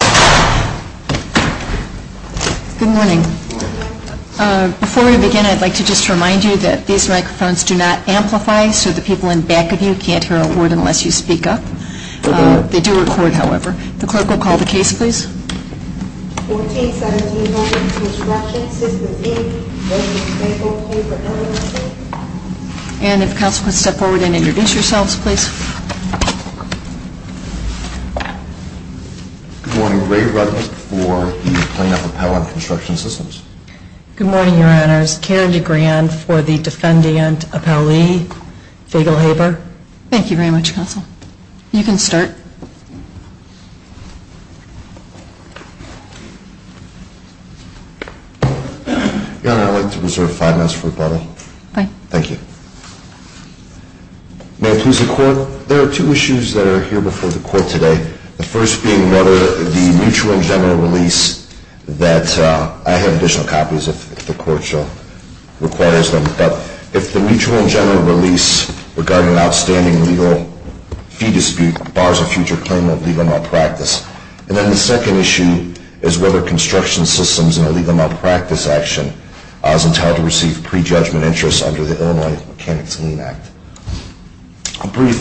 Good morning. Before we begin, I'd like to just remind you that these microphones do not amplify, so the people in back of you can't hear a word unless you speak up. They do record, however. The clerk will call the case, please. 1417 Holden Construction Systems, Inc. v. Fagelhaber, LLC And if counsel could step forward and introduce yourselves, please. Good morning. Ray Rudman for the Clean Up Appellant Construction Systems. Good morning, Your Honors. Karen DeGrand for the Defendant Appellee, Fagelhaber. Thank you very much, counsel. You can start. Your Honor, I'd like to reserve five minutes for rebuttal. Thank you. May it please the Court, there are two issues that are here before the Court today, the first being whether the mutual and general release that I have additional copies if the Court requires them, but if the mutual and general release regarding an outstanding legal fee dispute bars a future claim of legal malpractice. And then the second issue is whether Construction Systems in a legal malpractice action is entitled to receive prejudgment interest under the Illinois Mechanics Lien Act. A brief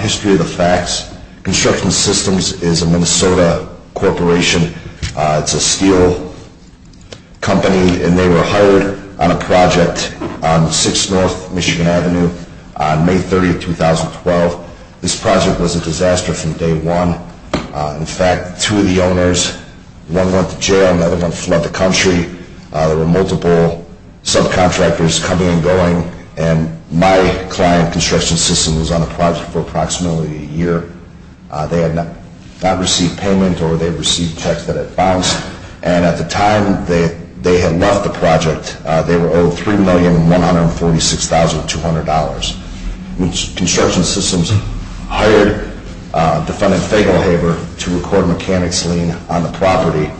history of the facts, Construction Systems is a Minnesota corporation. It's a steel company, and they were hired on a project on 6 North Michigan Avenue on May 30, 2012. This project was a disaster from day one. In fact, two of the owners, one went to jail, another one fled the country. There were multiple subcontractors coming and going, and my client, Construction Systems, was on the project for approximately a year. They had not received payment, or they received checks that had bounced, and at the time that they had left the project, they were owed $3,146,200. Construction Systems hired defendant Fagelhaver to record a mechanics lien on the property.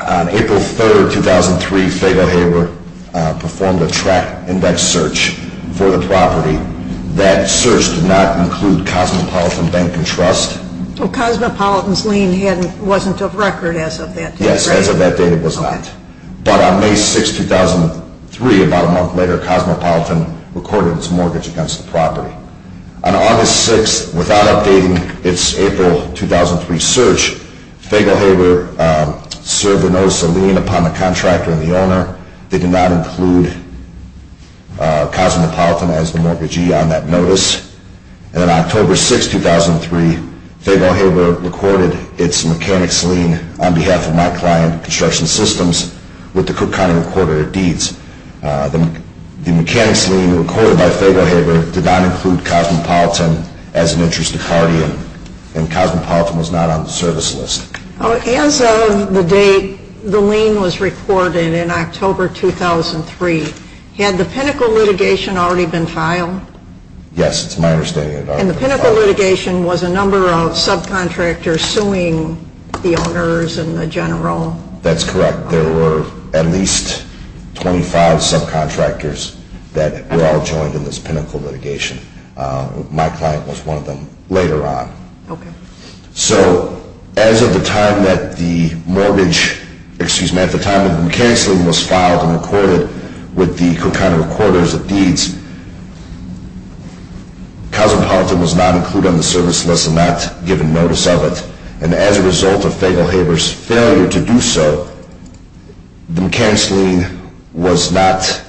On April 3, 2003, Fagelhaver performed a track index search for the property. That search did not include Cosmopolitan Bank and Trust. Cosmopolitan's lien wasn't of record as of that date, right? But on May 6, 2003, about a month later, Cosmopolitan recorded its mortgage against the property. On August 6, without updating its April 2003 search, Fagelhaver served a notice of lien upon the contractor and the owner. They did not include Cosmopolitan as the mortgagee on that notice. And on October 6, 2003, Fagelhaver recorded its mechanics lien on behalf of my client, Construction Systems, with the Cook County recorder of deeds. The mechanics lien recorded by Fagelhaver did not include Cosmopolitan as an interest of the party, and Cosmopolitan was not on the service list. As of the date the lien was recorded in October 2003, had the pinnacle litigation already been filed? And the pinnacle litigation was a number of subcontractors suing the owners and the general? That's correct. There were at least 25 subcontractors that were all joined in this pinnacle litigation. My client was one of them later on. Okay. So as of the time that the mortgage, excuse me, at the time the mechanics lien was filed and recorded with the Cook County recorder of deeds, Cosmopolitan was not included on the service list and not given notice of it. And as a result of Fagelhaver's failure to do so, the mechanics lien was not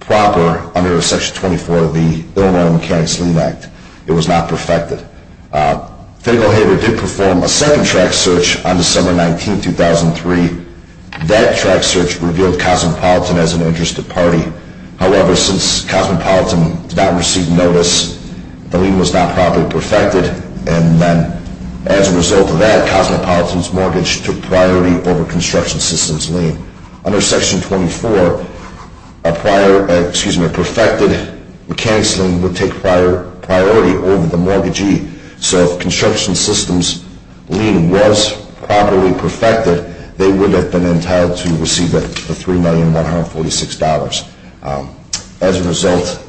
proper under Section 24 of the Illinois Mechanics Lien Act. It was not perfected. Fagelhaver did perform a second track search on December 19, 2003. That track search revealed Cosmopolitan as an interested party. However, since Cosmopolitan did not receive notice, the lien was not properly perfected. And then as a result of that, Cosmopolitan's mortgage took priority over Construction Systems lien. Under Section 24, a prior, excuse me, a perfected mechanics lien would take priority over the mortgagee. So if Construction Systems lien was properly perfected, they would have been entitled to receive the $3,146,000. As a result,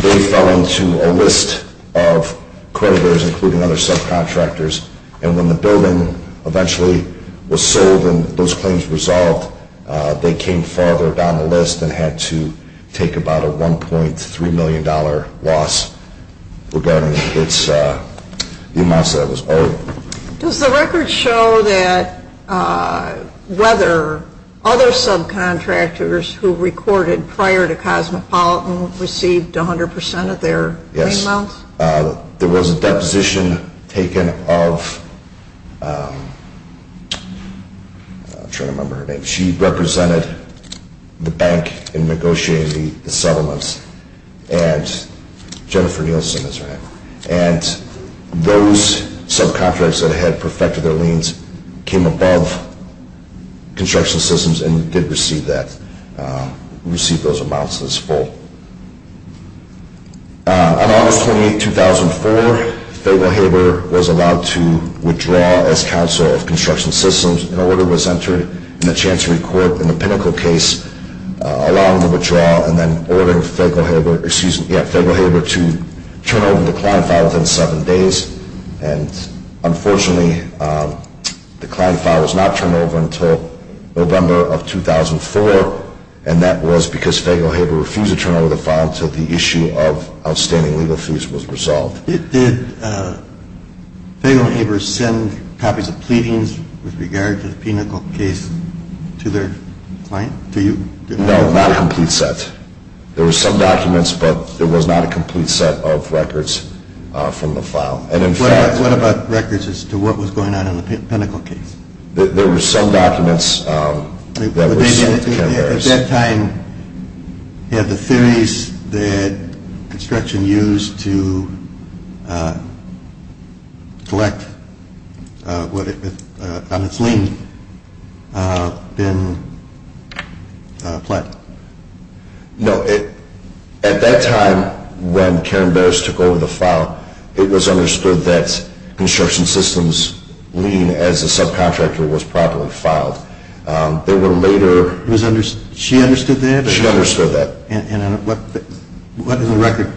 they fell into a list of creditors, including other subcontractors, and when the building eventually was sold and those claims resolved, they came farther down the list and had to take about a $1.3 million loss regarding the amounts that was owed. Does the record show that whether other subcontractors who recorded prior to Cosmopolitan received 100% of their lien amounts? Yes. There was a deposition taken of, I'm trying to remember her name. She represented the bank in negotiating the settlements. And Jennifer Nielsen is her name. And those subcontractors that had perfected their liens came above Construction Systems and did receive that, receive those amounts as full. On August 28, 2004, Fayetteville Haber was allowed to withdraw as counsel of Construction Systems. And that was because Fayetteville Haber refused to turn over the file until the issue of outstanding legal fees was resolved. Did Fayetteville Haber send copies of pleadings with regard to the Pinnacle case to the Supreme No. No. No. No. No. No. No. Did they send copies of the Pinnacle case to their client, to you? No, not a complete set. There were some documents but there was not a complete set of records from the file. What about records as to what was going on in the Pinnacle case? There were some documents that were... At that time, had the theories that construction used to collect on its lien been flat? No. At that time, when Karen Barris took over the file, it was understood that construction systems lien as a subcontractor was properly filed. There were later... She understood that? She understood that. And what is the record?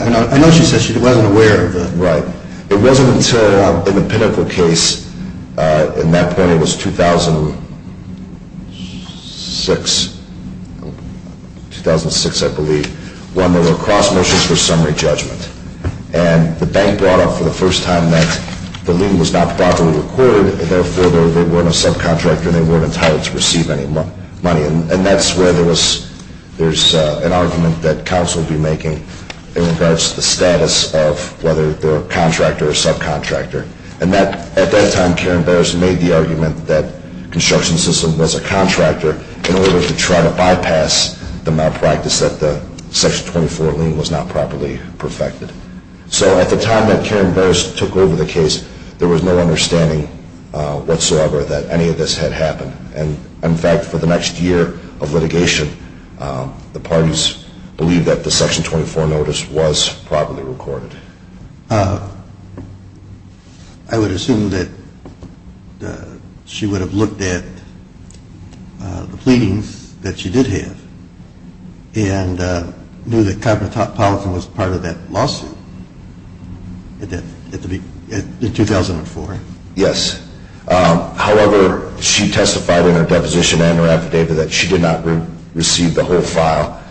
I know she said she wasn't aware of the... Right. It wasn't until in the Pinnacle case, in that point it was 2006, 2006 I believe, when there were cross motions for summary judgment. And the bank brought up for the first time that the lien was not properly recorded and therefore they weren't a subcontractor and they weren't entitled to receive any money. And that's where there was... There's an argument that counsel would be making in regards to the status of whether they're a contractor or subcontractor. And at that time, Karen Barris made the argument that the construction system was a contractor in order to try to bypass the malpractice that the Section 24 lien was not properly perfected. So at the time that Karen Barris took over the case, there was no understanding whatsoever that any of this had happened. And in fact, for the next year of litigation, the parties believed that the Section 24 notice was properly recorded. I would assume that she would have looked at the pleadings that she did have and knew that Covenant Topolitan was part of that lawsuit in 2004. Yes. However, she testified in her deposition and her affidavit that she did not receive the whole file.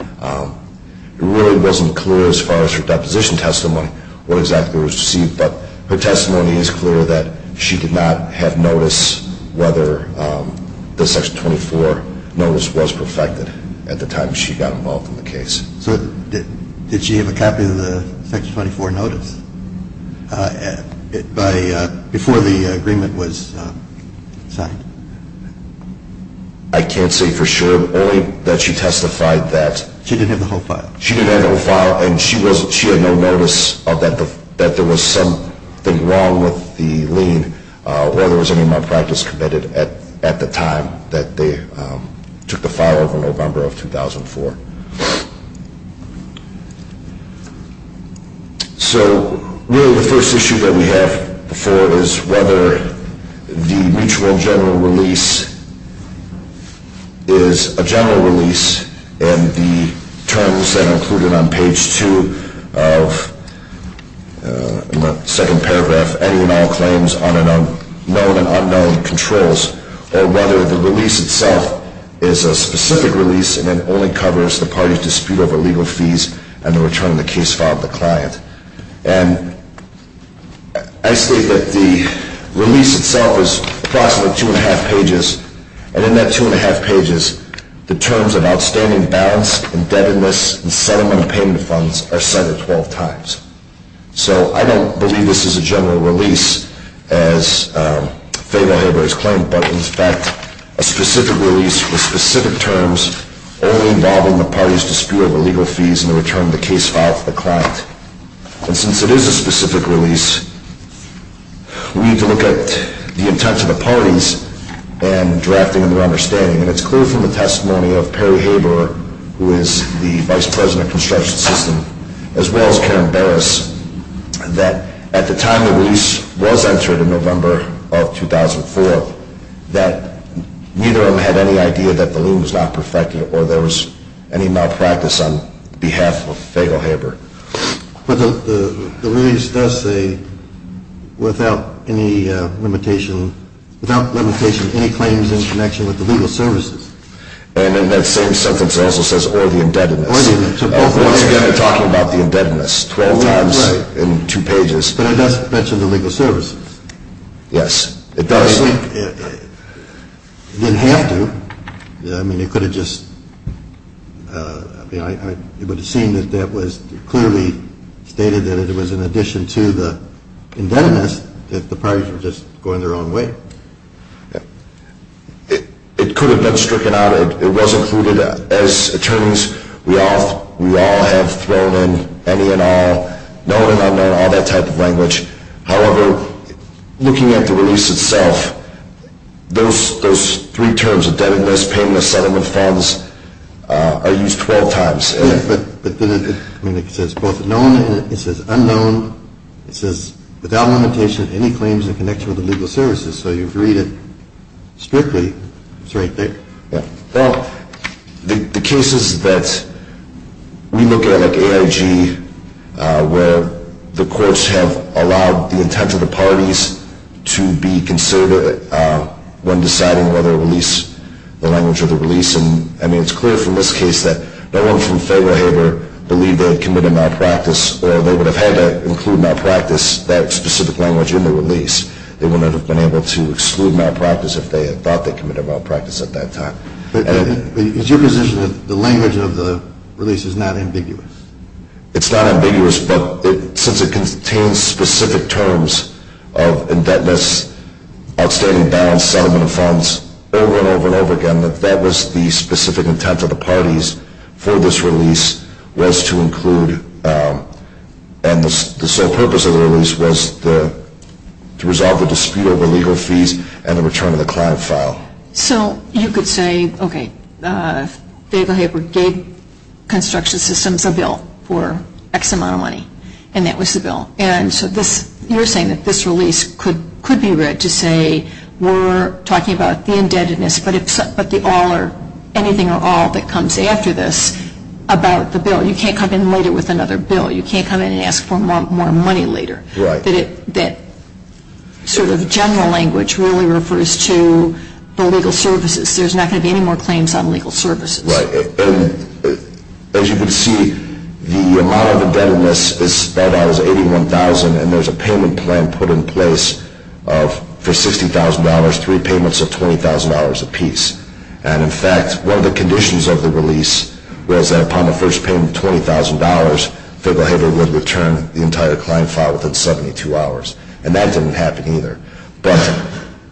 It really wasn't clear as far as her deposition testimony what exactly was received, but her testimony is clear that she did not have notice whether the Section 24 notice was perfected at the time she got involved in the case. So did she have a copy of the Section 24 notice before the agreement was signed? I can't say for sure, only that she testified that... She didn't have the whole file. And she had no notice that there was something wrong with the lien or there was any malpractice committed at the time that they took the file over November of 2004. So really the first issue that we have before is whether the mutual general release is a general release and the terms that are included on page 2 of the second paragraph, any and all claims on known and unknown controls, or whether the release itself is a specific release and it only covers the parties' dispute over legal fees and the return of the case file to the client. And I state that the release itself is approximately two and a half pages, and in that two and a half pages, the terms of outstanding balance, indebtedness, and settlement of payment funds are set at 12 times. So I don't believe this is a general release as Fable-Haber has claimed, but in fact a specific release with specific terms only involving the parties' dispute over legal fees and the return of the case file to the client. And since it is a specific release, we need to look at the intent of the parties and drafting a new understanding. And it's clear from the testimony of Perry Haber, who is the vice president of construction system, as well as Karen Barras, that at the time the release was entered in November of 2004, that neither of them had any idea that the loom was not perfected or there was any malpractice on behalf of Fable-Haber. But the release does say, without limitation, any claims in connection with the legal services. And in that same sentence it also says, or the indebtedness. Once again they're talking about the indebtedness, 12 times in two pages. But it does mention the legal services. Yes, it does. It didn't have to. I mean it could have just, it would have seemed that that was clearly stated that it was in addition to the indebtedness that the parties were just going their own way. It could have been stricken out. It was included as attorneys. We all have thrown in any and all, known and unknown, all that type of language. However, looking at the release itself, those three terms, indebtedness, payment of settlement funds, are used 12 times. But then it says both known and it says unknown. It says, without limitation, any claims in connection with the legal services. So if you read it strictly, it's right there. Well, the cases that we look at, like AIG, where the courts have allowed the intent of the parties to be considered when deciding whether to release the language of the release. I mean it's clear from this case that no one from Fayetteville ever believed they had committed a malpractice or they would have had to include malpractice, that specific language, in the release. They wouldn't have been able to exclude malpractice if they had thought they committed malpractice at that time. But is your position that the language of the release is not ambiguous? It's not ambiguous, but since it contains specific terms of indebtedness, outstanding balance, settlement of funds, over and over and over again, that that was the specific intent of the parties for this release was to include. And the sole purpose of the release was to resolve the dispute over legal fees and the return of the client file. So you could say, okay, Fayetteville Havre gave construction systems a bill for X amount of money, and that was the bill. And so you're saying that this release could be read to say we're talking about the indebtedness, but anything or all that comes after this about the bill. You can't come in later with another bill. You can't come in and ask for more money later. Right. That sort of general language really refers to the legal services. There's not going to be any more claims on legal services. Right. And as you can see, the amount of indebtedness is spelled out as $81,000, and there's a payment plan put in place for $60,000, three payments of $20,000 apiece. And in fact, one of the conditions of the release was that upon the first payment of $20,000, Fayetteville Havre would return the entire client file within 72 hours, and that didn't happen either. But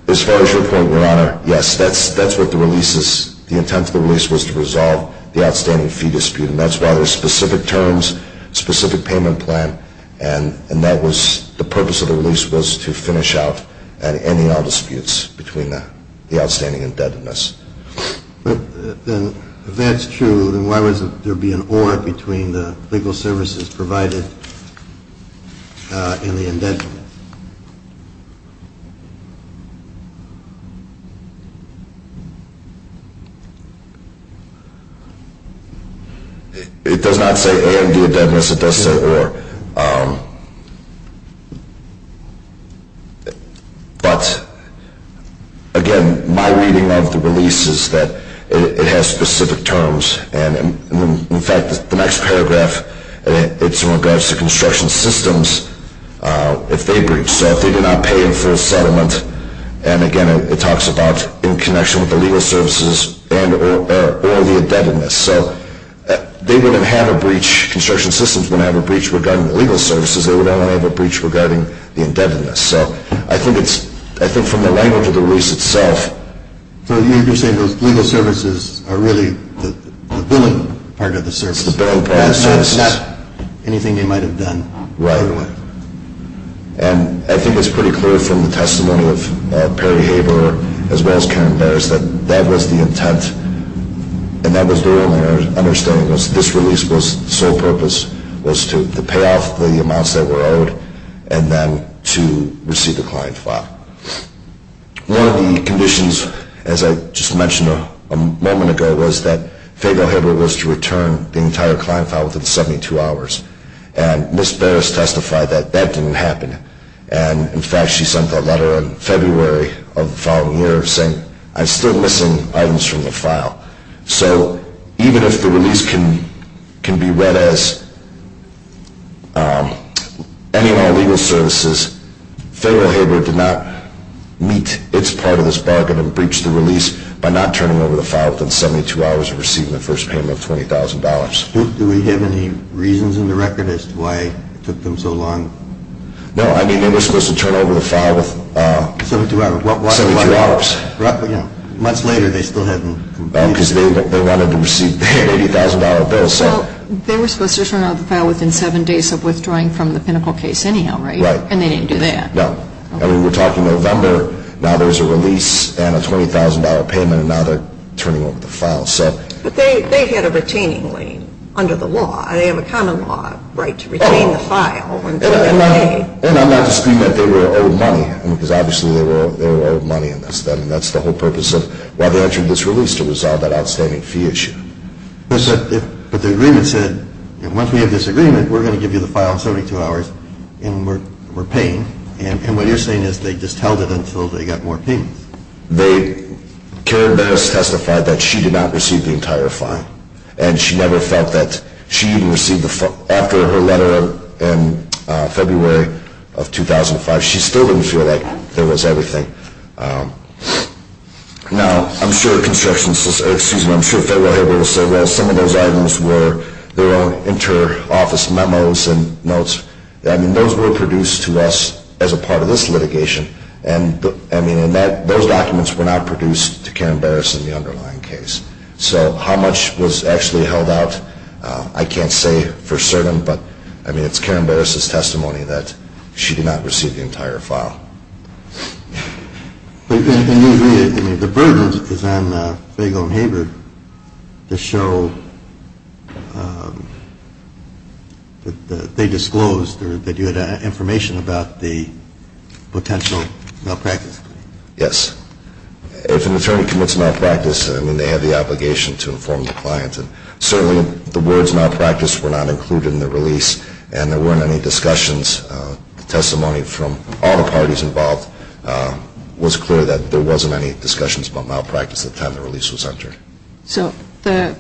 as far as your point, Your Honor, yes, that's what the release is. The intent of the release was to resolve the outstanding fee dispute, and that's why there are specific terms, specific payment plan, and that was the purpose of the release was to finish out and ending all disputes between the outstanding indebtedness. If that's true, then why would there be an or between the legal services provided and the indebtedness? It does not say and the indebtedness. It does say or. But, again, my reading of the release is that it has specific terms. And in fact, the next paragraph, it's in regards to construction systems, if they breach. So if they do not pay in full settlement, and again, it talks about in connection with the legal services and or the indebtedness. So they wouldn't have a breach. Construction systems wouldn't have a breach regarding the legal services. They would only have a breach regarding the indebtedness. So I think from the language of the release itself. So you're saying those legal services are really the billing part of the services. It's the billing part of the services. That's not anything they might have done. Right. And I think it's pretty clear from the testimony of Perry Havre, as well as Karen Bares, that that was the intent and that was the only understanding was this release was the sole purpose, was to pay off the amounts that were owed and then to receive the client file. One of the conditions, as I just mentioned a moment ago, was that Faygo Havre was to return the entire client file within 72 hours. And Ms. Bares testified that that didn't happen. And, in fact, she sent a letter in February of the following year saying, I'm still missing items from the file. So even if the release can be read as ending all legal services, Faygo Havre did not meet its part of this bargain and breach the release by not turning over the file within 72 hours of receiving the first payment of $20,000. Do we have any reasons in the record as to why it took them so long? No, I mean they were supposed to turn over the file within 72 hours. Months later they still hadn't completed it. Because they wanted to receive their $80,000 bill. Well, they were supposed to turn over the file within seven days of withdrawing from the Pinnacle case anyhow, right? Right. And they didn't do that. No. And we were talking November. Now there's a release and a $20,000 payment and now they're turning over the file. But they had a retaining lien under the law. They have a common law right to retain the file. And I'm not disagreeing that they were owed money, because obviously they were owed money in this. That's the whole purpose of why they entered this release, to resolve that outstanding fee issue. But the agreement said, once we have this agreement, we're going to give you the file in 72 hours and we're paying. And what you're saying is they just held it until they got more payments. Karen Barris testified that she did not receive the entire file. And she never felt that she even received the file. After her letter in February of 2005, she still didn't feel like there was everything. Now, I'm sure construction, excuse me, I'm sure Fayetteville Hability will say, well, some of those items were their own inter-office memos and notes. I mean, those were produced to us as a part of this litigation. And, I mean, those documents were not produced to Karen Barris in the underlying case. So how much was actually held out, I can't say for certain. But, I mean, it's Karen Barris' testimony that she did not receive the entire file. The burden is on Fayetteville and Hability to show that they disclosed that you had information about the potential malpractice. Yes. If an attorney commits malpractice, I mean, they have the obligation to inform the client. And certainly the words malpractice were not included in the release. And there weren't any discussions. The testimony from all the parties involved was clear that there wasn't any discussions about malpractice at the time the release was entered. So the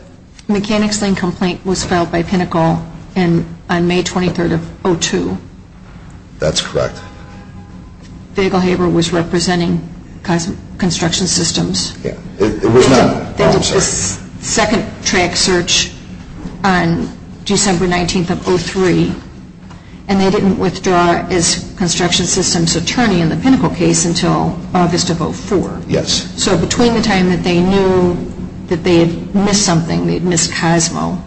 Mechanics Lane complaint was filed by Pinnacle on May 23rd of 2002. That's correct. Fayetteville Hability was representing construction systems. Yeah. They did this second track search on December 19th of 2003. And they didn't withdraw as construction systems attorney in the Pinnacle case until August of 2004. Yes. So between the time that they knew that they had missed something, they had missed Cosmo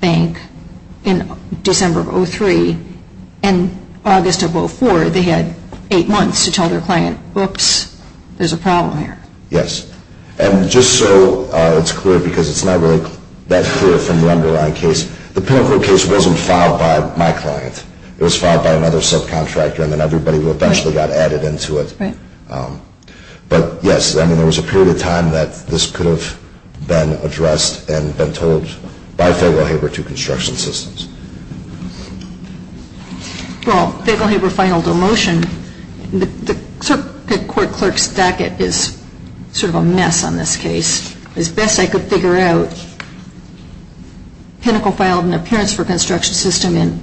Bank in December of 2003 and August of 2004, they had eight months to tell their client, oops, there's a problem here. Yes. And just so it's clear, because it's not really that clear from the underlying case, the Pinnacle case wasn't filed by my client. It was filed by another subcontractor. And then everybody eventually got added into it. Right. But, yes, I mean, there was a period of time that this could have been addressed and been told by Fayetteville Haber to construction systems. Well, Fayetteville Haber filed a motion. The court clerk's docket is sort of a mess on this case. As best I could figure out, Pinnacle filed an appearance for construction system on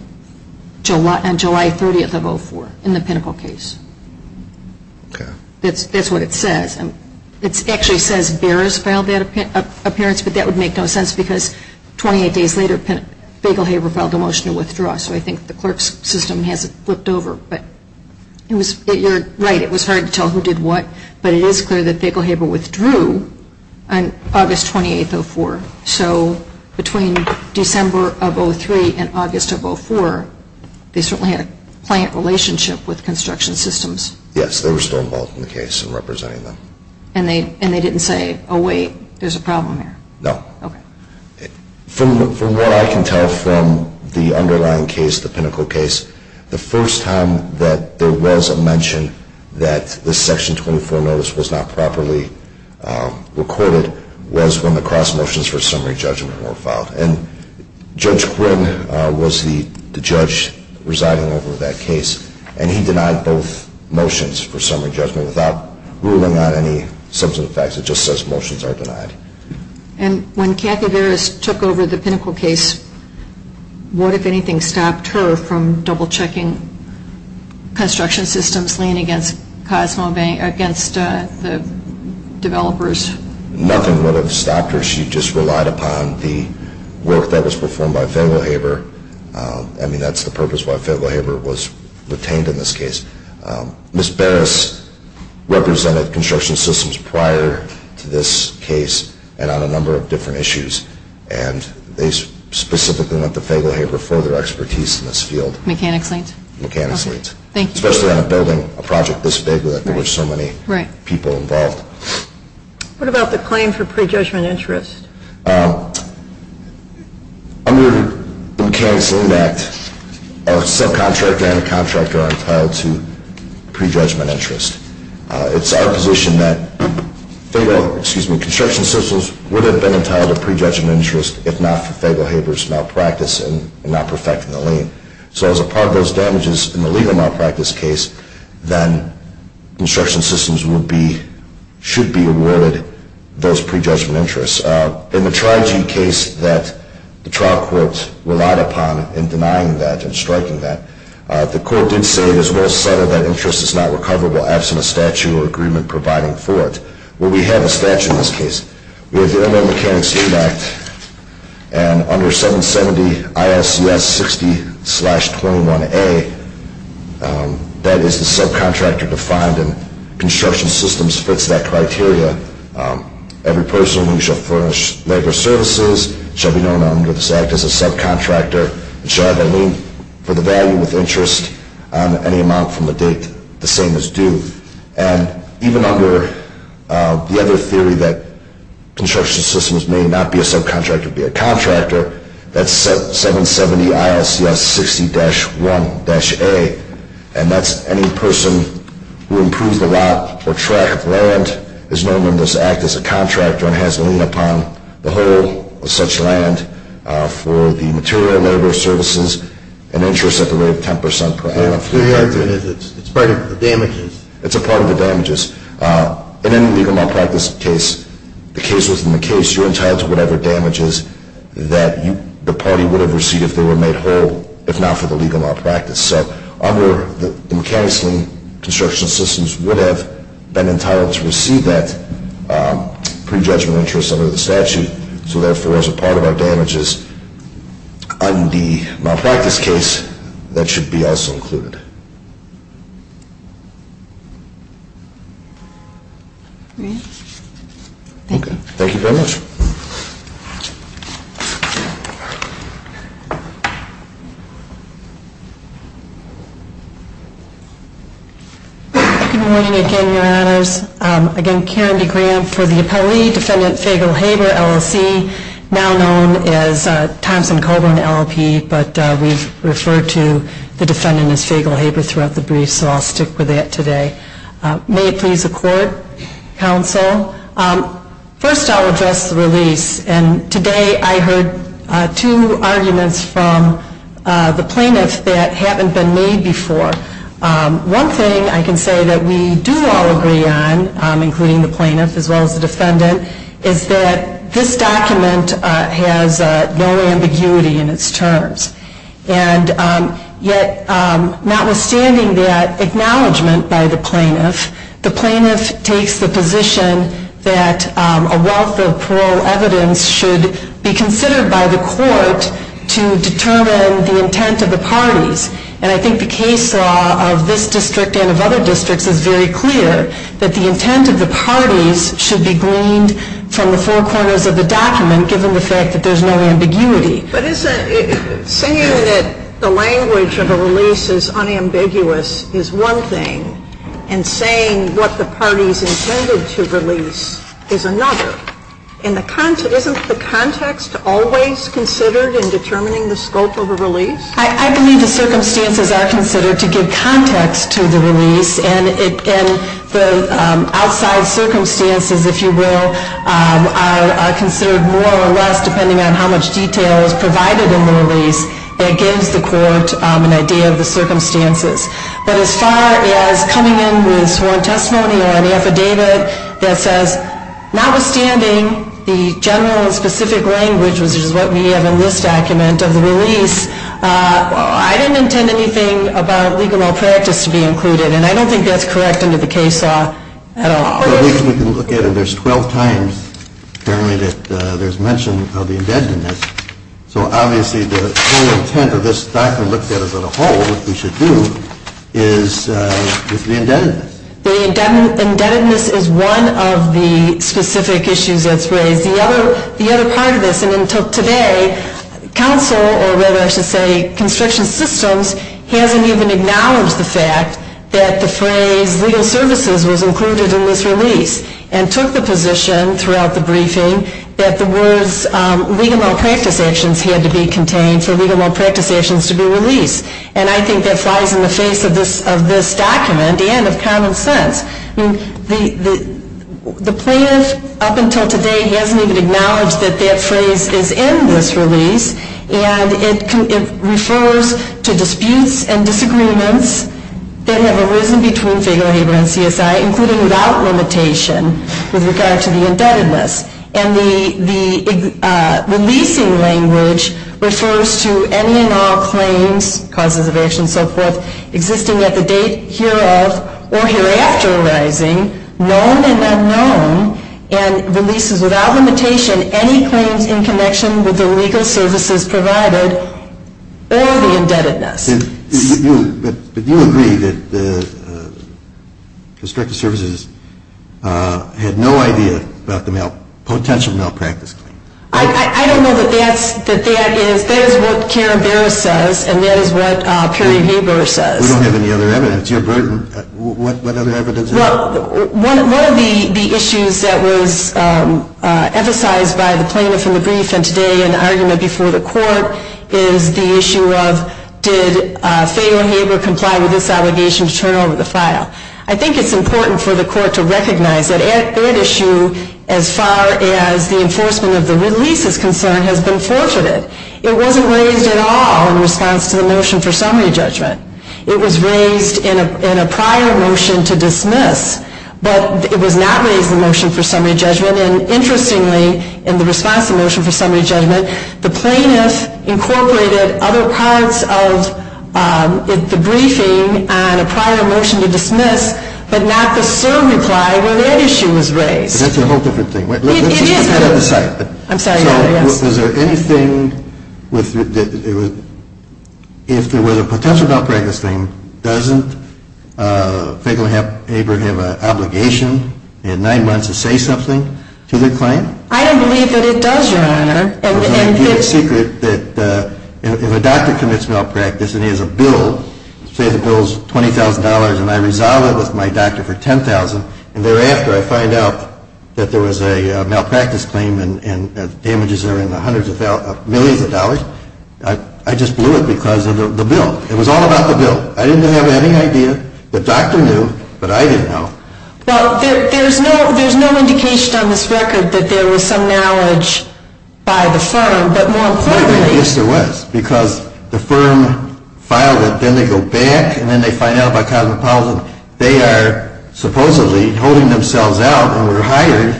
July 30th of 2004 in the Pinnacle case. Okay. That's what it says. It actually says Behrs filed that appearance, but that would make no sense because 28 days later Fayetteville Haber filed a motion to withdraw. So I think the clerk's system has flipped over. But you're right, it was hard to tell who did what. But it is clear that Fayetteville Haber withdrew on August 28th of 2004. So between December of 2003 and August of 2004, they certainly had a client relationship with construction systems. Yes, they were still involved in the case and representing them. And they didn't say, oh, wait, there's a problem here? No. Okay. From what I can tell from the underlying case, the Pinnacle case, the first time that there was a mention that the Section 24 notice was not properly recorded was when the cross motions for summary judgment were filed. And Judge Quinn was the judge residing over that case. And he denied both motions for summary judgment without ruling out any substantive facts. It just says motions are denied. And when Kathy Behrs took over the Pinnacle case, what, if anything, stopped her from double-checking construction systems, laying against Cosmo Bank, against the developers? Nothing would have stopped her. She just relied upon the work that was performed by Fayetteville Haber. I mean, that's the purpose why Fayetteville Haber was retained in this case. Ms. Behrs represented construction systems prior to this case and on a number of different issues. And they specifically went to Fayetteville Haber for their expertise in this field. Mechanics leads? Mechanics leads. Thank you. Especially on a building, a project this big, that there were so many people involved. What about the claim for prejudgment interest? Under the Mechanics' Lien Act, a subcontractor and a contractor are entitled to prejudgment interest. It's our position that Fayetteville, excuse me, construction systems would have been entitled to prejudgment interest if not for Fayetteville Haber's malpractice in not perfecting the lien. So as a part of those damages in the legal malpractice case, then construction systems should be awarded those prejudgment interests. In the Tri-G case that the trial court relied upon in denying that and striking that, the court did say, as well as settle, that interest is not recoverable absent a statute or agreement providing for it. Well, we have a statute in this case. We have the Inland Mechanics Lien Act, and under 770 ILCS 60-21A, that is the subcontractor defined, and construction systems fits that criteria. Every person who shall furnish labor services shall be known under this act as a subcontractor and shall have a lien for the value with interest on any amount from the date the same as due. And even under the other theory that construction systems may not be a subcontractor but be a contractor, that's 770 ILCS 60-1-A, and that's any person who improves the lot or tract of land is known under this act as a contractor and has a lien upon the whole of such land for the material labor services and interest at the rate of 10% per annum. It's part of the damages. It's a part of the damages. In any legal malpractice case, the case within the case, you're entitled to whatever damages that the party would have received if they were made whole, if not for the legal malpractice. So under the mechanics lien, construction systems would have been entitled to receive that pre-judgment interest under the statute. So therefore, as a part of our damages on the malpractice case, that should be also included. Thank you. Thank you very much. Good morning again, Your Honors. Again, Karen D. Graham for the appellee, Defendant Fagel-Haber, LLC, now known as Thompson-Coburn LLP, but we've referred to the defendant as Fagel-Haber throughout the brief, so I'll stick with that today. May it please the Court, Counsel. First, I'll address the release, and today I heard two arguments from the plaintiffs that haven't been made before. One thing I can say that we do all agree on, including the plaintiff as well as the defendant, is that this document has no ambiguity in its terms. And yet, notwithstanding that acknowledgment by the plaintiff, the plaintiff takes the position that a wealth of parole evidence should be considered by the court to determine the intent of the parties. And I think the case law of this district and of other districts is very clear that the intent of the parties should be gleaned from the four corners of the document, given the fact that there's no ambiguity. But saying that the language of a release is unambiguous is one thing, and saying what the parties intended to release is another. Isn't the context always considered in determining the scope of a release? I believe the circumstances are considered to give context to the release, and the outside circumstances, if you will, are considered more or less, depending on how much detail is provided in the release, that gives the court an idea of the circumstances. But as far as coming in with sworn testimony or an affidavit that says, notwithstanding the general and specific language, which is what we have in this document of the release, I didn't intend anything about legal malpractice to be included, and I don't think that's correct under the case law at all. The reason we can look at it, there's 12 times, apparently, that there's mention of the indebtedness. So obviously the whole intent of this document looked at as a whole, which we should do, is the indebtedness. The indebtedness is one of the specific issues that's raised. The other part of this, and until today, counsel, or rather I should say, constriction systems, hasn't even acknowledged the fact that the phrase legal services was included in this release, and took the position throughout the briefing that the words legal malpractice actions had to be contained for legal malpractice actions to be released. And I think that flies in the face of this document, and of common sense. The plaintiff, up until today, hasn't even acknowledged that that phrase is in this release, and it refers to disputes and disagreements that have arisen between Fayetteville Haber and CSI, including without limitation, with regard to the indebtedness. And the releasing language refers to any and all claims, causes of action and so forth, existing at the date hereof, or hereafter arising, known and unknown, and releases without limitation any claims in connection with the legal services provided, or the indebtedness. But do you agree that the constrictive services had no idea about the potential malpractice claims? I don't know that that is what Karen Barrett says, and that is what Perry Haber says. We don't have any other evidence. You're burdened. What other evidence do you have? Well, one of the issues that was emphasized by the plaintiff in the brief, and today in the argument before the court, is the issue of did Fayetteville Haber comply with this obligation to turn over the file. I think it's important for the court to recognize that that issue, as far as the enforcement of the release is concerned, has been forfeited. It wasn't raised at all in response to the motion for summary judgment. It was raised in a prior motion to dismiss, but it was not raised in the motion for summary judgment, and interestingly, in the response to the motion for summary judgment, the plaintiff incorporated other parts of the briefing and a prior motion to dismiss, but not the certain reply where that issue was raised. That's a whole different thing. It is. Let's just head out of the site. I'm sorry. If there was a potential malpractice claim, doesn't Fayetteville Haber have an obligation in nine months to say something to the claim? I don't believe that it does, Your Honor. If a doctor commits malpractice and he has a bill, say the bill is $20,000 and I resolve it with my doctor for $10,000, and thereafter I find out that there was a malpractice claim and damages are in the hundreds of millions of dollars, I just blew it because of the bill. It was all about the bill. I didn't have any idea. The doctor knew, but I didn't know. Well, there's no indication on this record that there was some knowledge by the firm, but more importantly — Yes, there was, because the firm filed it, then they go back, and then they find out about cosmopolitan. They are supposedly holding themselves out and were hired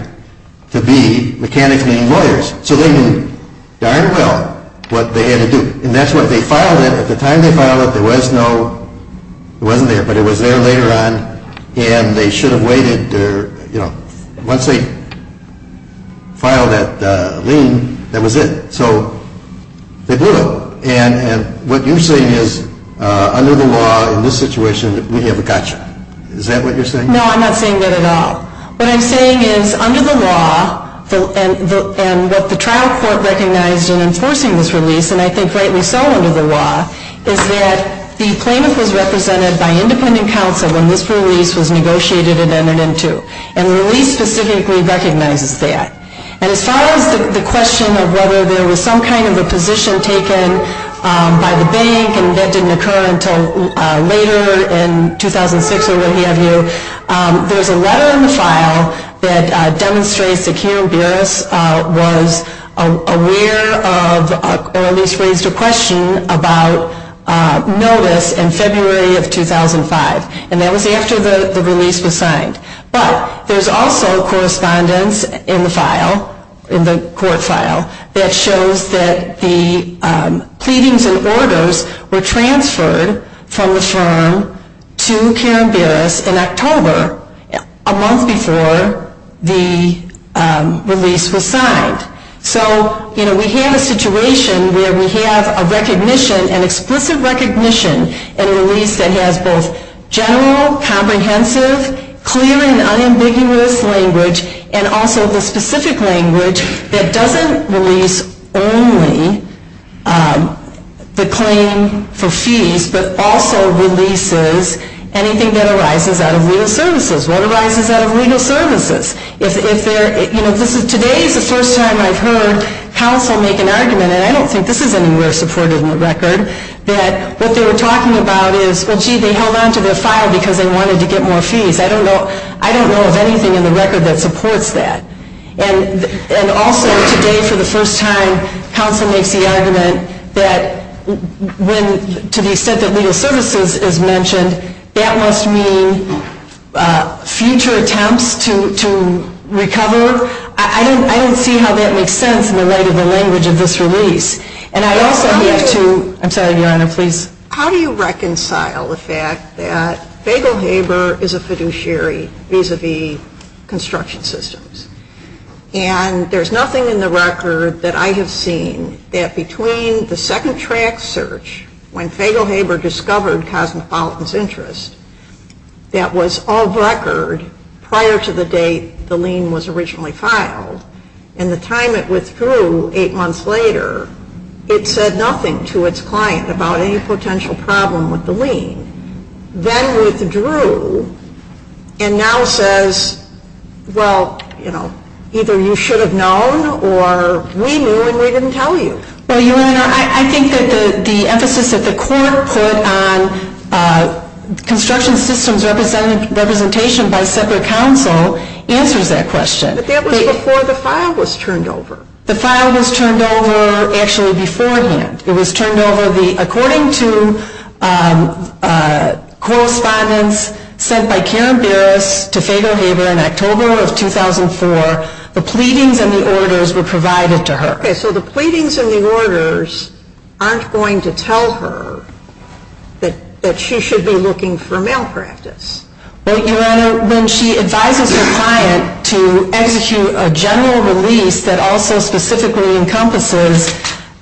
to be mechanics being lawyers. So they knew darn well what they had to do. And that's what they filed it. At the time they filed it, there was no — it wasn't there, but it was there later on, and they should have waited. Once they filed that lien, that was it. So they blew it. And what you're saying is, under the law in this situation, we have a gotcha. Is that what you're saying? No, I'm not saying that at all. What I'm saying is, under the law, and what the trial court recognized in enforcing this release, and I think rightly so under the law, is that the plaintiff was represented by independent counsel when this release was negotiated and entered into. And the release specifically recognizes that. And as far as the question of whether there was some kind of a position taken by the bank, and that didn't occur until later in 2006 or what have you, there's a letter in the file that demonstrates that Karen Burris was aware of, or at least raised a question about, notice in February of 2005. And that was after the release was signed. But there's also correspondence in the file, in the court file, that shows that the pleadings and orders were transferred from the firm to Karen Burris in October, a month before the release was signed. So, you know, we have a situation where we have a recognition, an explicit recognition, and a release that has both general, comprehensive, clear and unambiguous language, and also the specific language that doesn't release only the claim for fees, but also releases anything that arises out of legal services. What arises out of legal services? Today is the first time I've heard counsel make an argument, and I don't think this is anywhere supported in the record, that what they were talking about is, well, gee, they held on to the file because they wanted to get more fees. I don't know of anything in the record that supports that. And also, today for the first time, counsel makes the argument that when, to the extent that legal services is mentioned, that must mean future attempts to recover. I don't see how that makes sense in the light of the language of this release. And I also have to, I'm sorry, Your Honor, please. How do you reconcile the fact that Fagel Haber is a fiduciary vis-a-vis construction systems? And there's nothing in the record that I have seen that between the second track search, when Fagel Haber discovered Cosmopolitan's interest, that was of record prior to the date the lien was originally filed. And the time it withdrew, eight months later, it said nothing to its client about any potential problem with the lien. Then withdrew, and now says, well, you know, either you should have known, or we knew and we didn't tell you. Well, Your Honor, I think that the emphasis that the court put on construction systems representation by separate counsel answers that question. But that was before the file was turned over. The file was turned over actually beforehand. It was turned over according to correspondence sent by Karen Berris to Fagel Haber in October of 2004. The pleadings and the orders were provided to her. Okay, so the pleadings and the orders aren't going to tell her that she should be looking for malpractice. Well, Your Honor, when she advises her client to execute a general release that also specifically encompasses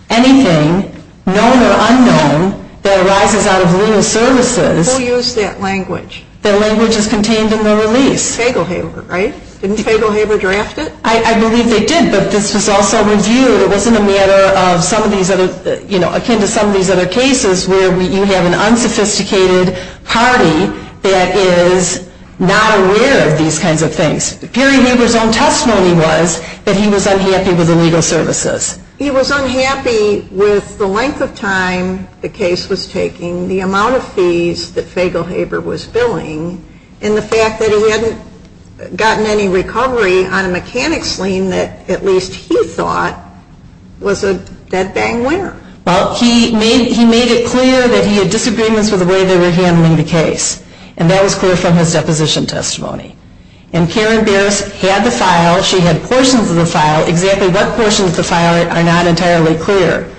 anything known or unknown that arises out of legal services. Who used that language? That language is contained in the release. Fagel Haber, right? Didn't Fagel Haber draft it? I believe they did, but this was also reviewed. It wasn't a matter of some of these other, you know, akin to some of these other cases where you have an unsophisticated party that is not aware of these kinds of things. Perry Haber's own testimony was that he was unhappy with the legal services. He was unhappy with the length of time the case was taking, the amount of fees that Fagel Haber was billing, and the fact that he hadn't gotten any recovery on a mechanics lien that at least he thought was a dead-bang winner. Well, he made it clear that he had disagreements with the way they were handling the case, and that was clear from his deposition testimony. And Karen Bierce had the file. She had portions of the file. Exactly what portions of the file are not entirely clear.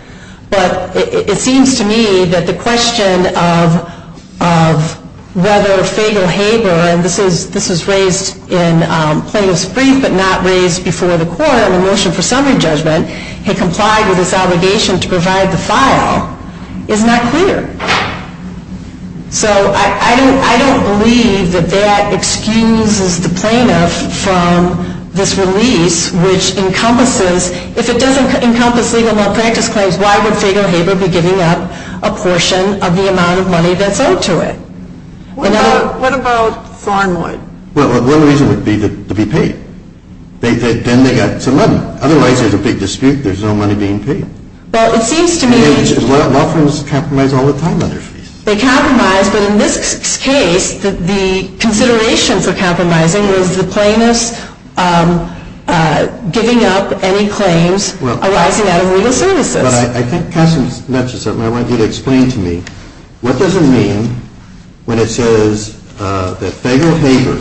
But it seems to me that the question of whether Fagel Haber, and this was raised in plaintiff's brief but not raised before the court on a motion for summary judgment, had complied with his obligation to provide the file is not clear. So I don't believe that that excuses the plaintiff from this release, which encompasses, if it doesn't encompass legal malpractice claims, why would Fagel Haber be giving up a portion of the amount of money that's owed to it? What about Thornwood? Well, one reason would be to be paid. Then they got some money. Otherwise, there's a big dispute. There's no money being paid. Well, it seems to me that Because law firms compromise all the time on their fees. They compromise, but in this case, the consideration for compromising was the plaintiff's giving up any claims arising out of legal services. Well, I think Katherine's mentioned something I want you to explain to me. What does it mean when it says that Fagel Haber,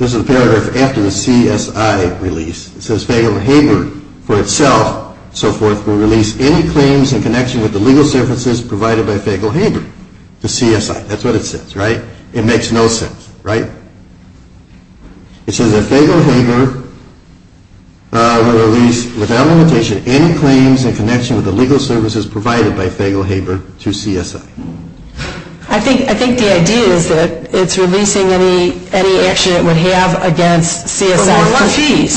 this is a paragraph after the CSI release, it says Fagel Haber for itself, so forth, will release any claims in connection with the legal services provided by Fagel Haber to CSI. That's what it says, right? It makes no sense, right? It says that Fagel Haber will release, without limitation, any claims in connection with the legal services provided by Fagel Haber to CSI. I think the idea is that it's releasing any action it would have against CSI. For more money.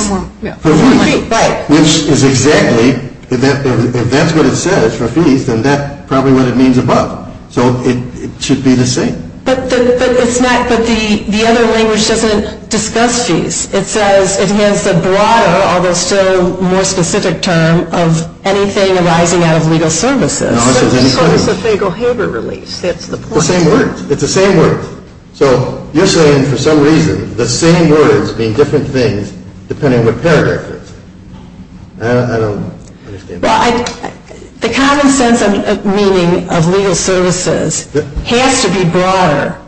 For more fees. Right. Which is exactly, if that's what it says, for fees, then that's probably what it means above. So it should be the same. But the other language doesn't discuss fees. It says it has the broader, although still more specific term, of anything arising out of legal services. No, it says any claims. So it's a Fagel Haber release. That's the point. The same words. It's the same words. So you're saying, for some reason, the same words mean different things depending on what paragraph it's in. I don't understand. The common sense meaning of legal services has to be broader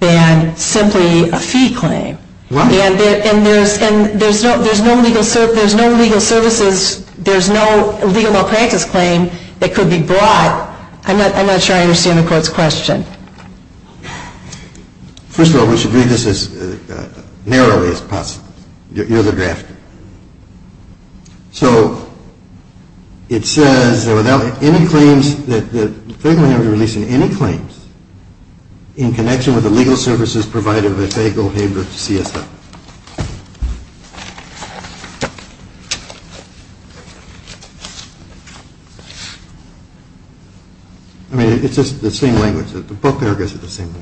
than simply a fee claim. And there's no legal services, there's no legal malpractice claim that could be brought. I'm not sure I understand the court's question. First of all, we should read this as narrowly as possible. Your other draft. So it says that Fagel Haber is releasing any claims in connection with the legal services provided by Fagel Haber CSF. I mean, it's just the same language. The book paragraphs are the same.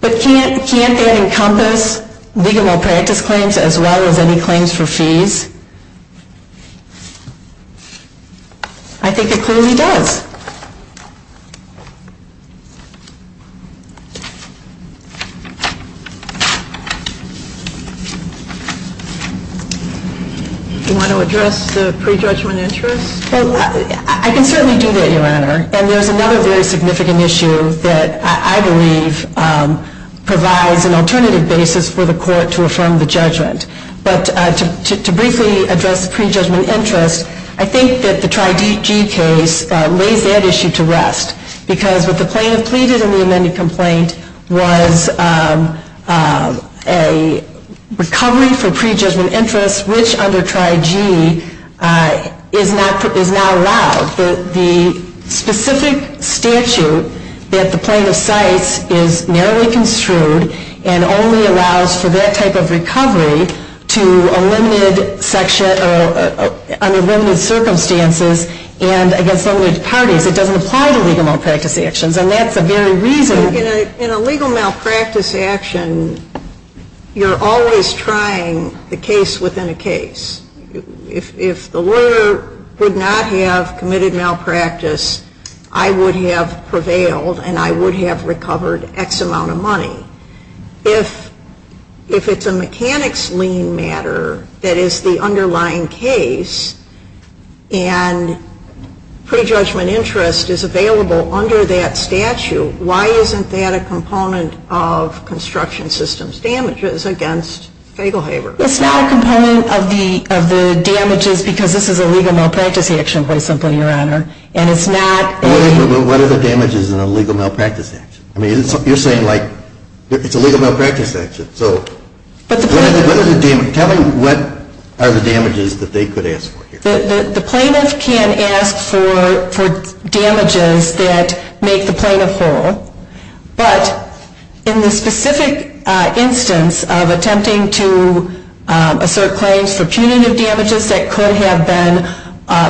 But can't that encompass legal malpractice claims as well as any claims for fees? I think it clearly does. You want to address the prejudgment interest? I can certainly do that, Your Honor. And there's another very significant issue that I believe provides an alternative basis for the court to affirm the judgment. But to briefly address the prejudgment interest, I think that the Tri-G case lays that issue to rest. Because what the plaintiff pleaded in the amended complaint was a recovery for prejudgment interest, which under Tri-G is not allowed. The specific statute that the plaintiff cites is narrowly construed and only allows for that type of recovery to a limited section or under limited circumstances and against limited parties. It doesn't apply to legal malpractice actions. And that's the very reason. In a legal malpractice action, you're always trying the case within a case. If the lawyer would not have committed malpractice, I would have prevailed and I would have recovered X amount of money. If it's a mechanics lien matter that is the underlying case and prejudgment interest is available under that statute, why isn't that a component of construction system's damages against Fagelhaeber? It's not a component of the damages because this is a legal malpractice action quite simply, Your Honor. And it's not a... But what are the damages in a legal malpractice action? I mean, you're saying like it's a legal malpractice action. So... But the plaintiff... Tell me what are the damages that they could ask for here. The plaintiff can ask for damages that make the plaintiff whole. But in the specific instance of attempting to assert claims for punitive damages that could have been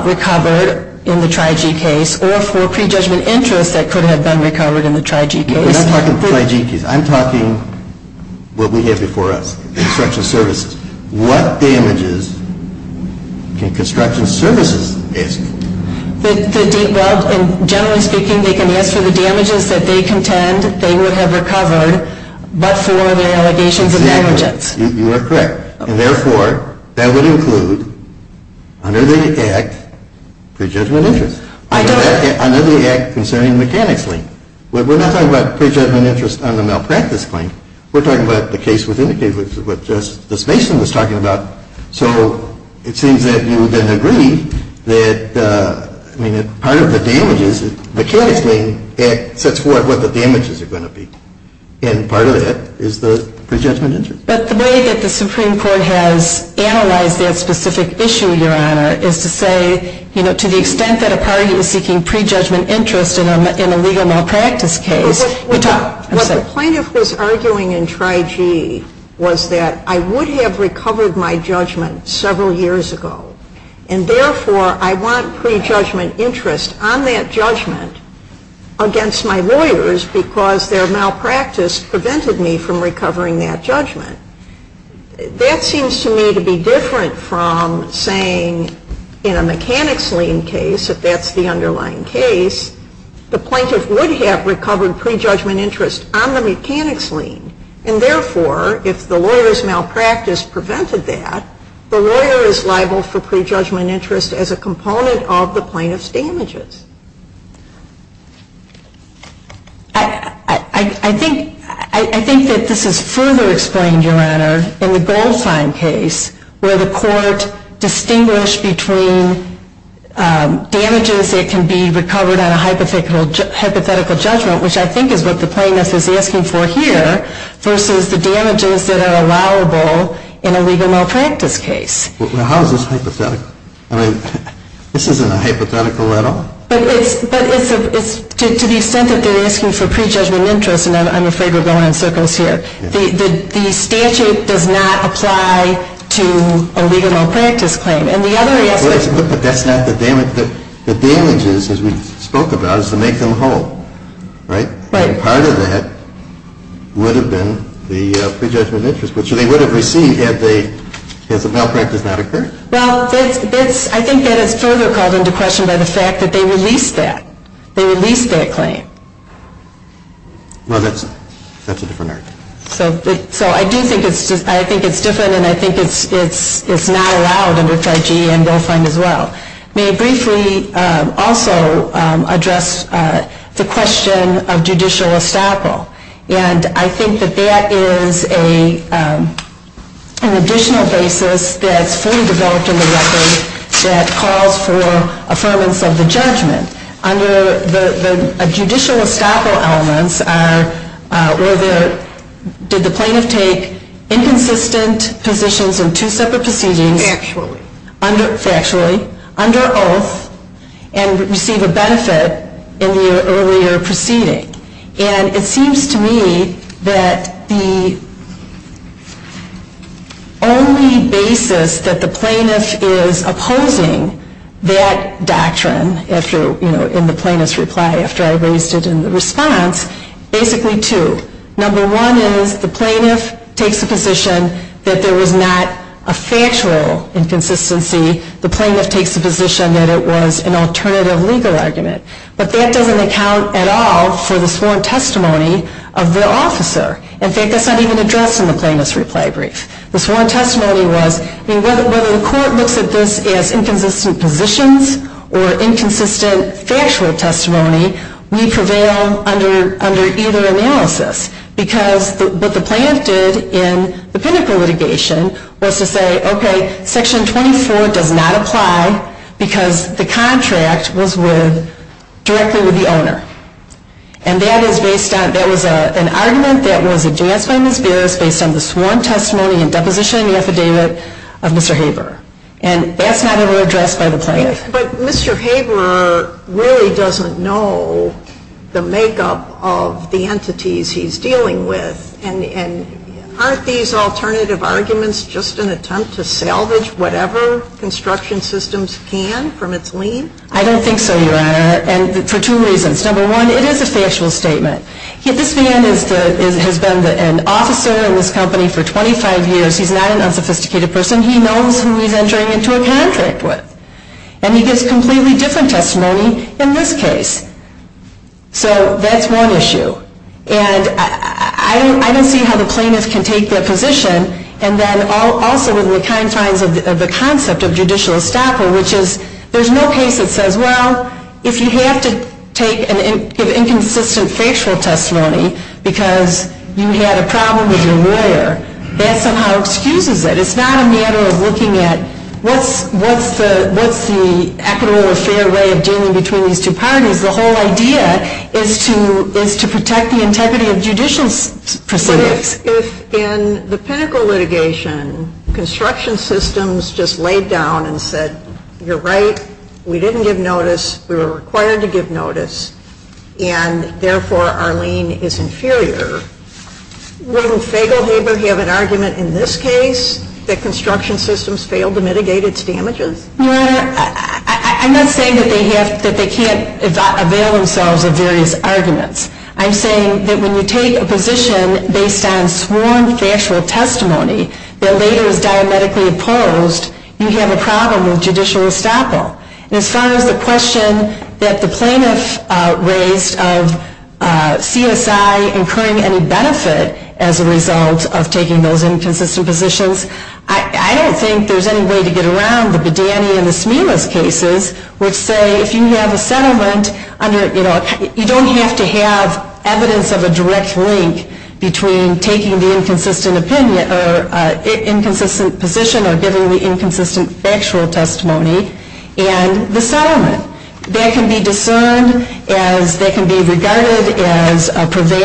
recovered in the TRI-G case or for prejudgment interest that could have been recovered in the TRI-G case... When I'm talking TRI-G case, I'm talking what we have before us, construction services. What damages can construction services ask? Well, generally speaking, they can ask for the damages that they contend they would have recovered but for their allegations of negligence. Exactly. You are correct. And therefore, that would include under the Act prejudgment interest. I don't... Under the Act concerning mechanics lien. We're not talking about prejudgment interest on the malpractice claim. We're talking about the case within the case, which is what Justice Mason was talking about. So it seems that you would then agree that, I mean, part of the damages, the mechanics lien, it sets forth what the damages are going to be. And part of that is the prejudgment interest. But the way that the Supreme Court has analyzed that specific issue, Your Honor, is to say, you know, to the extent that a party was seeking prejudgment interest in a legal malpractice case... What the plaintiff was arguing in Trigee was that I would have recovered my judgment several years ago. And therefore, I want prejudgment interest on that judgment against my lawyers because their malpractice prevented me from recovering that judgment. That seems to me to be different from saying in a mechanics lien case, if that's the underlying case, the plaintiff would have recovered prejudgment interest on the mechanics lien. And therefore, if the lawyer's malpractice prevented that, the lawyer is liable for prejudgment interest as a component of the plaintiff's damages. I think that this is further explained, Your Honor, in the Goldstein case where the court distinguished between damages that can be recovered on a hypothetical judgment, which I think is what the plaintiff is asking for here, versus the damages that are allowable in a legal malpractice case. Well, how is this hypothetical? I mean, this isn't a hypothetical at all. But to the extent that they're asking for prejudgment interest, and I'm afraid we're going in circles here, the statute does not apply to a legal malpractice claim. And the other aspect... But that's not the damage. The damage is, as we spoke about, is to make them whole, right? Right. And part of that would have been the prejudgment interest, which they would have received had the malpractice not occurred. Well, I think that is further called into question by the fact that they released that. They released that claim. Well, that's a different argument. So I do think it's different, and I think it's not allowed under F.R.G. and GoFundM as well. May I briefly also address the question of judicial estoppel? And I think that that is an additional basis that's fully developed in the record that calls for affirmance of the judgment. Under the judicial estoppel elements, did the plaintiff take inconsistent positions in two separate proceedings? Factually. Factually. Under oath, and receive a benefit in the earlier proceeding? And it seems to me that the only basis that the plaintiff is opposing that doctrine, if you're in the plaintiff's reply after I raised it in the response, basically two. Number one is the plaintiff takes the position that there was not a factual inconsistency. The plaintiff takes the position that it was an alternative legal argument. But that doesn't account at all for the sworn testimony of the officer. In fact, that's not even addressed in the plaintiff's reply brief. The sworn testimony was whether the court looks at this as inconsistent positions or inconsistent factual testimony, we prevail under either analysis. Because what the plaintiff did in the pinnacle litigation was to say, okay, Section 24 does not apply because the contract was with, directly with the owner. And that is based on, that was an argument that was addressed by Ms. Barris based on the sworn testimony and deposition affidavit of Mr. Haberer. And that's not ever addressed by the plaintiff. But Mr. Haberer really doesn't know the makeup of the entities he's dealing with. And aren't these alternative arguments just an attempt to salvage whatever construction systems can from its lien? I don't think so, Your Honor. And for two reasons. Number one, it is a factual statement. This man has been an officer in this company for 25 years. He's not an unsophisticated person. He knows who he's entering into a contract with. And he gives completely different testimony in this case. So that's one issue. And I don't see how the plaintiff can take that position. And then also within the confines of the concept of judicial estoppel, which is there's no case that says, well, if you have to take an inconsistent factual testimony because you had a problem with your lawyer, that somehow excuses it. It's not a matter of looking at what's the equitable or fair way of dealing between these two parties. The whole idea is to protect the integrity of judicial proceedings. If in the Pinnacle litigation, construction systems just laid down and said, you're right, we didn't give notice, we were required to give notice, and therefore our lien is inferior, Wouldn't Faglehaber have an argument in this case that construction systems failed to mitigate its damages? I'm not saying that they can't avail themselves of various arguments. I'm saying that when you take a position based on sworn factual testimony that later is diametrically opposed, you have a problem with judicial estoppel. And as far as the question that the plaintiff raised of CSI incurring any benefit as a result of taking those inconsistent positions, I don't think there's any way to get around the Badani and the Smilas cases, which say, if you have a settlement, you don't have to have evidence of a direct link between taking the inconsistent position or giving the inconsistent factual testimony and the settlement. That can be discerned as, that can be regarded as the party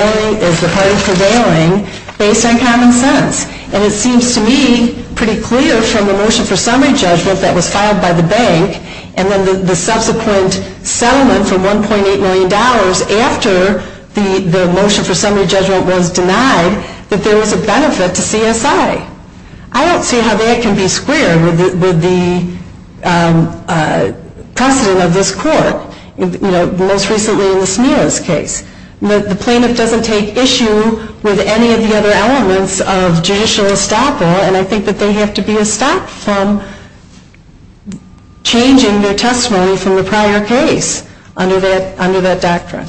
prevailing based on common sense. And it seems to me pretty clear from the motion for summary judgment that was filed by the bank and then the subsequent settlement for $1.8 million after the motion for summary judgment was denied, that there was a benefit to CSI. I don't see how that can be squared with the precedent of this court, most recently in the Smilas case. The plaintiff doesn't take issue with any of the other elements of judicial estoppel, and I think that they have to be estopped from changing their testimony from the prior case under that doctrine.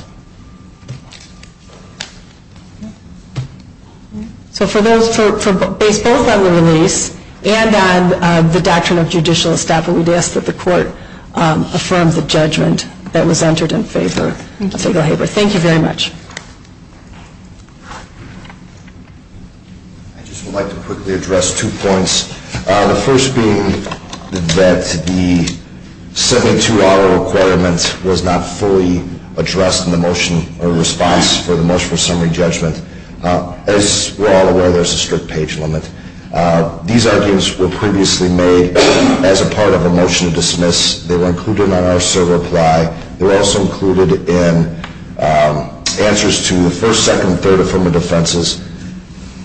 So for those, based both on the release and on the doctrine of judicial estoppel, we'd ask that the court affirm the judgment that was entered in favor. Thank you very much. I just would like to quickly address two points, the first being that the 72-hour requirement was not fully addressed in the motion or response for the motion for summary judgment. As we're all aware, there's a strict page limit. These arguments were previously made as a part of a motion to dismiss. They were included in our server apply. They were also included in answers to the first, second, and third affirmative defenses.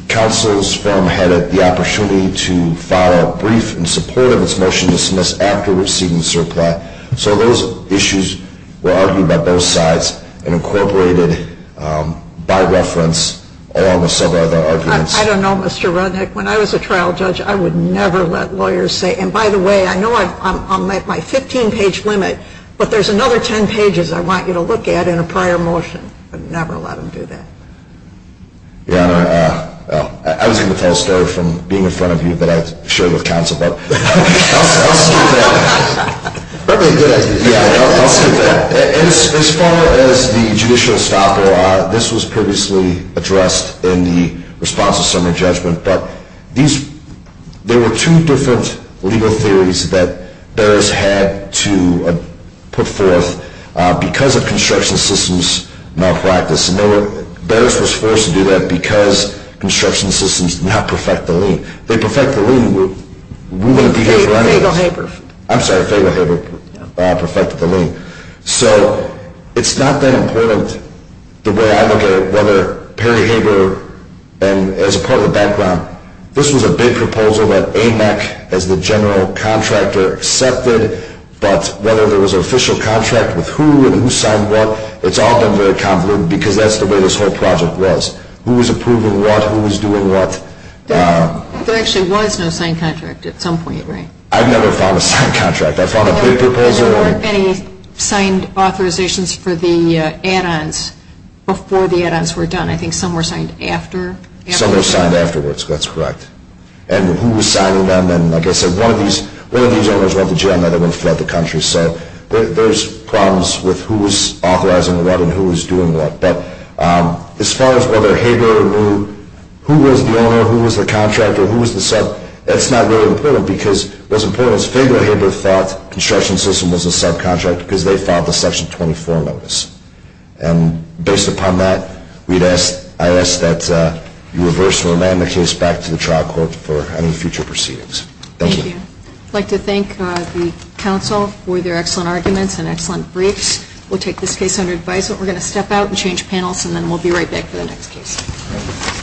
Counsel's firm had the opportunity to file a brief in support of its motion to dismiss after receiving the server apply. So those issues were argued by both sides and incorporated by reference along with several other arguments. I don't know, Mr. Rudnick. When I was a trial judge, I would never let lawyers say, and by the way, I know I'm at my 15-page limit, but there's another 10 pages I want you to look at in a prior motion. I would never let them do that. Your Honor, I was going to tell a story from being in front of you that I shared with counsel, but I'll skip that. That would be a good idea. Yeah, I'll skip that. As far as the judicial estoppel, this was previously addressed in the response to summary judgment, but there were two different legal theories that Barris had to put forth because of construction systems malpractice. Barris was forced to do that because construction systems now perfect the lien. They perfect the lien. Fagelhaber. I'm sorry, Fagelhaber perfected the lien. So it's not that important the way I look at it, whether Perry Hager, and as a part of the background, this was a big proposal that AMAC, as the general contractor, accepted, but whether there was an official contract with who and who signed what, it's all been very complicated because that's the way this whole project was, who was approving what, who was doing what. There actually was no signed contract at some point, right? I've never found a signed contract. I found a big proposal. There weren't any signed authorizations for the add-ons before the add-ons were done. I think some were signed after. Some were signed afterwards. That's correct. And who was signing them, and like I said, one of these owners went to jail, another one fled the country. So there's problems with who was authorizing what and who was doing what. But as far as whether Hager knew who was the owner, who was the contractor, who was the sub, that's not really important because what's important is Faygo Hager thought the construction system was a subcontractor because they filed the Section 24 notice. And based upon that, I ask that you reverse or amend the case back to the trial court for any future proceedings. Thank you. Thank you. I'd like to thank the council for their excellent arguments and excellent briefs. We'll take this case under advisement. We're going to step out and change panels, and then we'll be right back for the next case.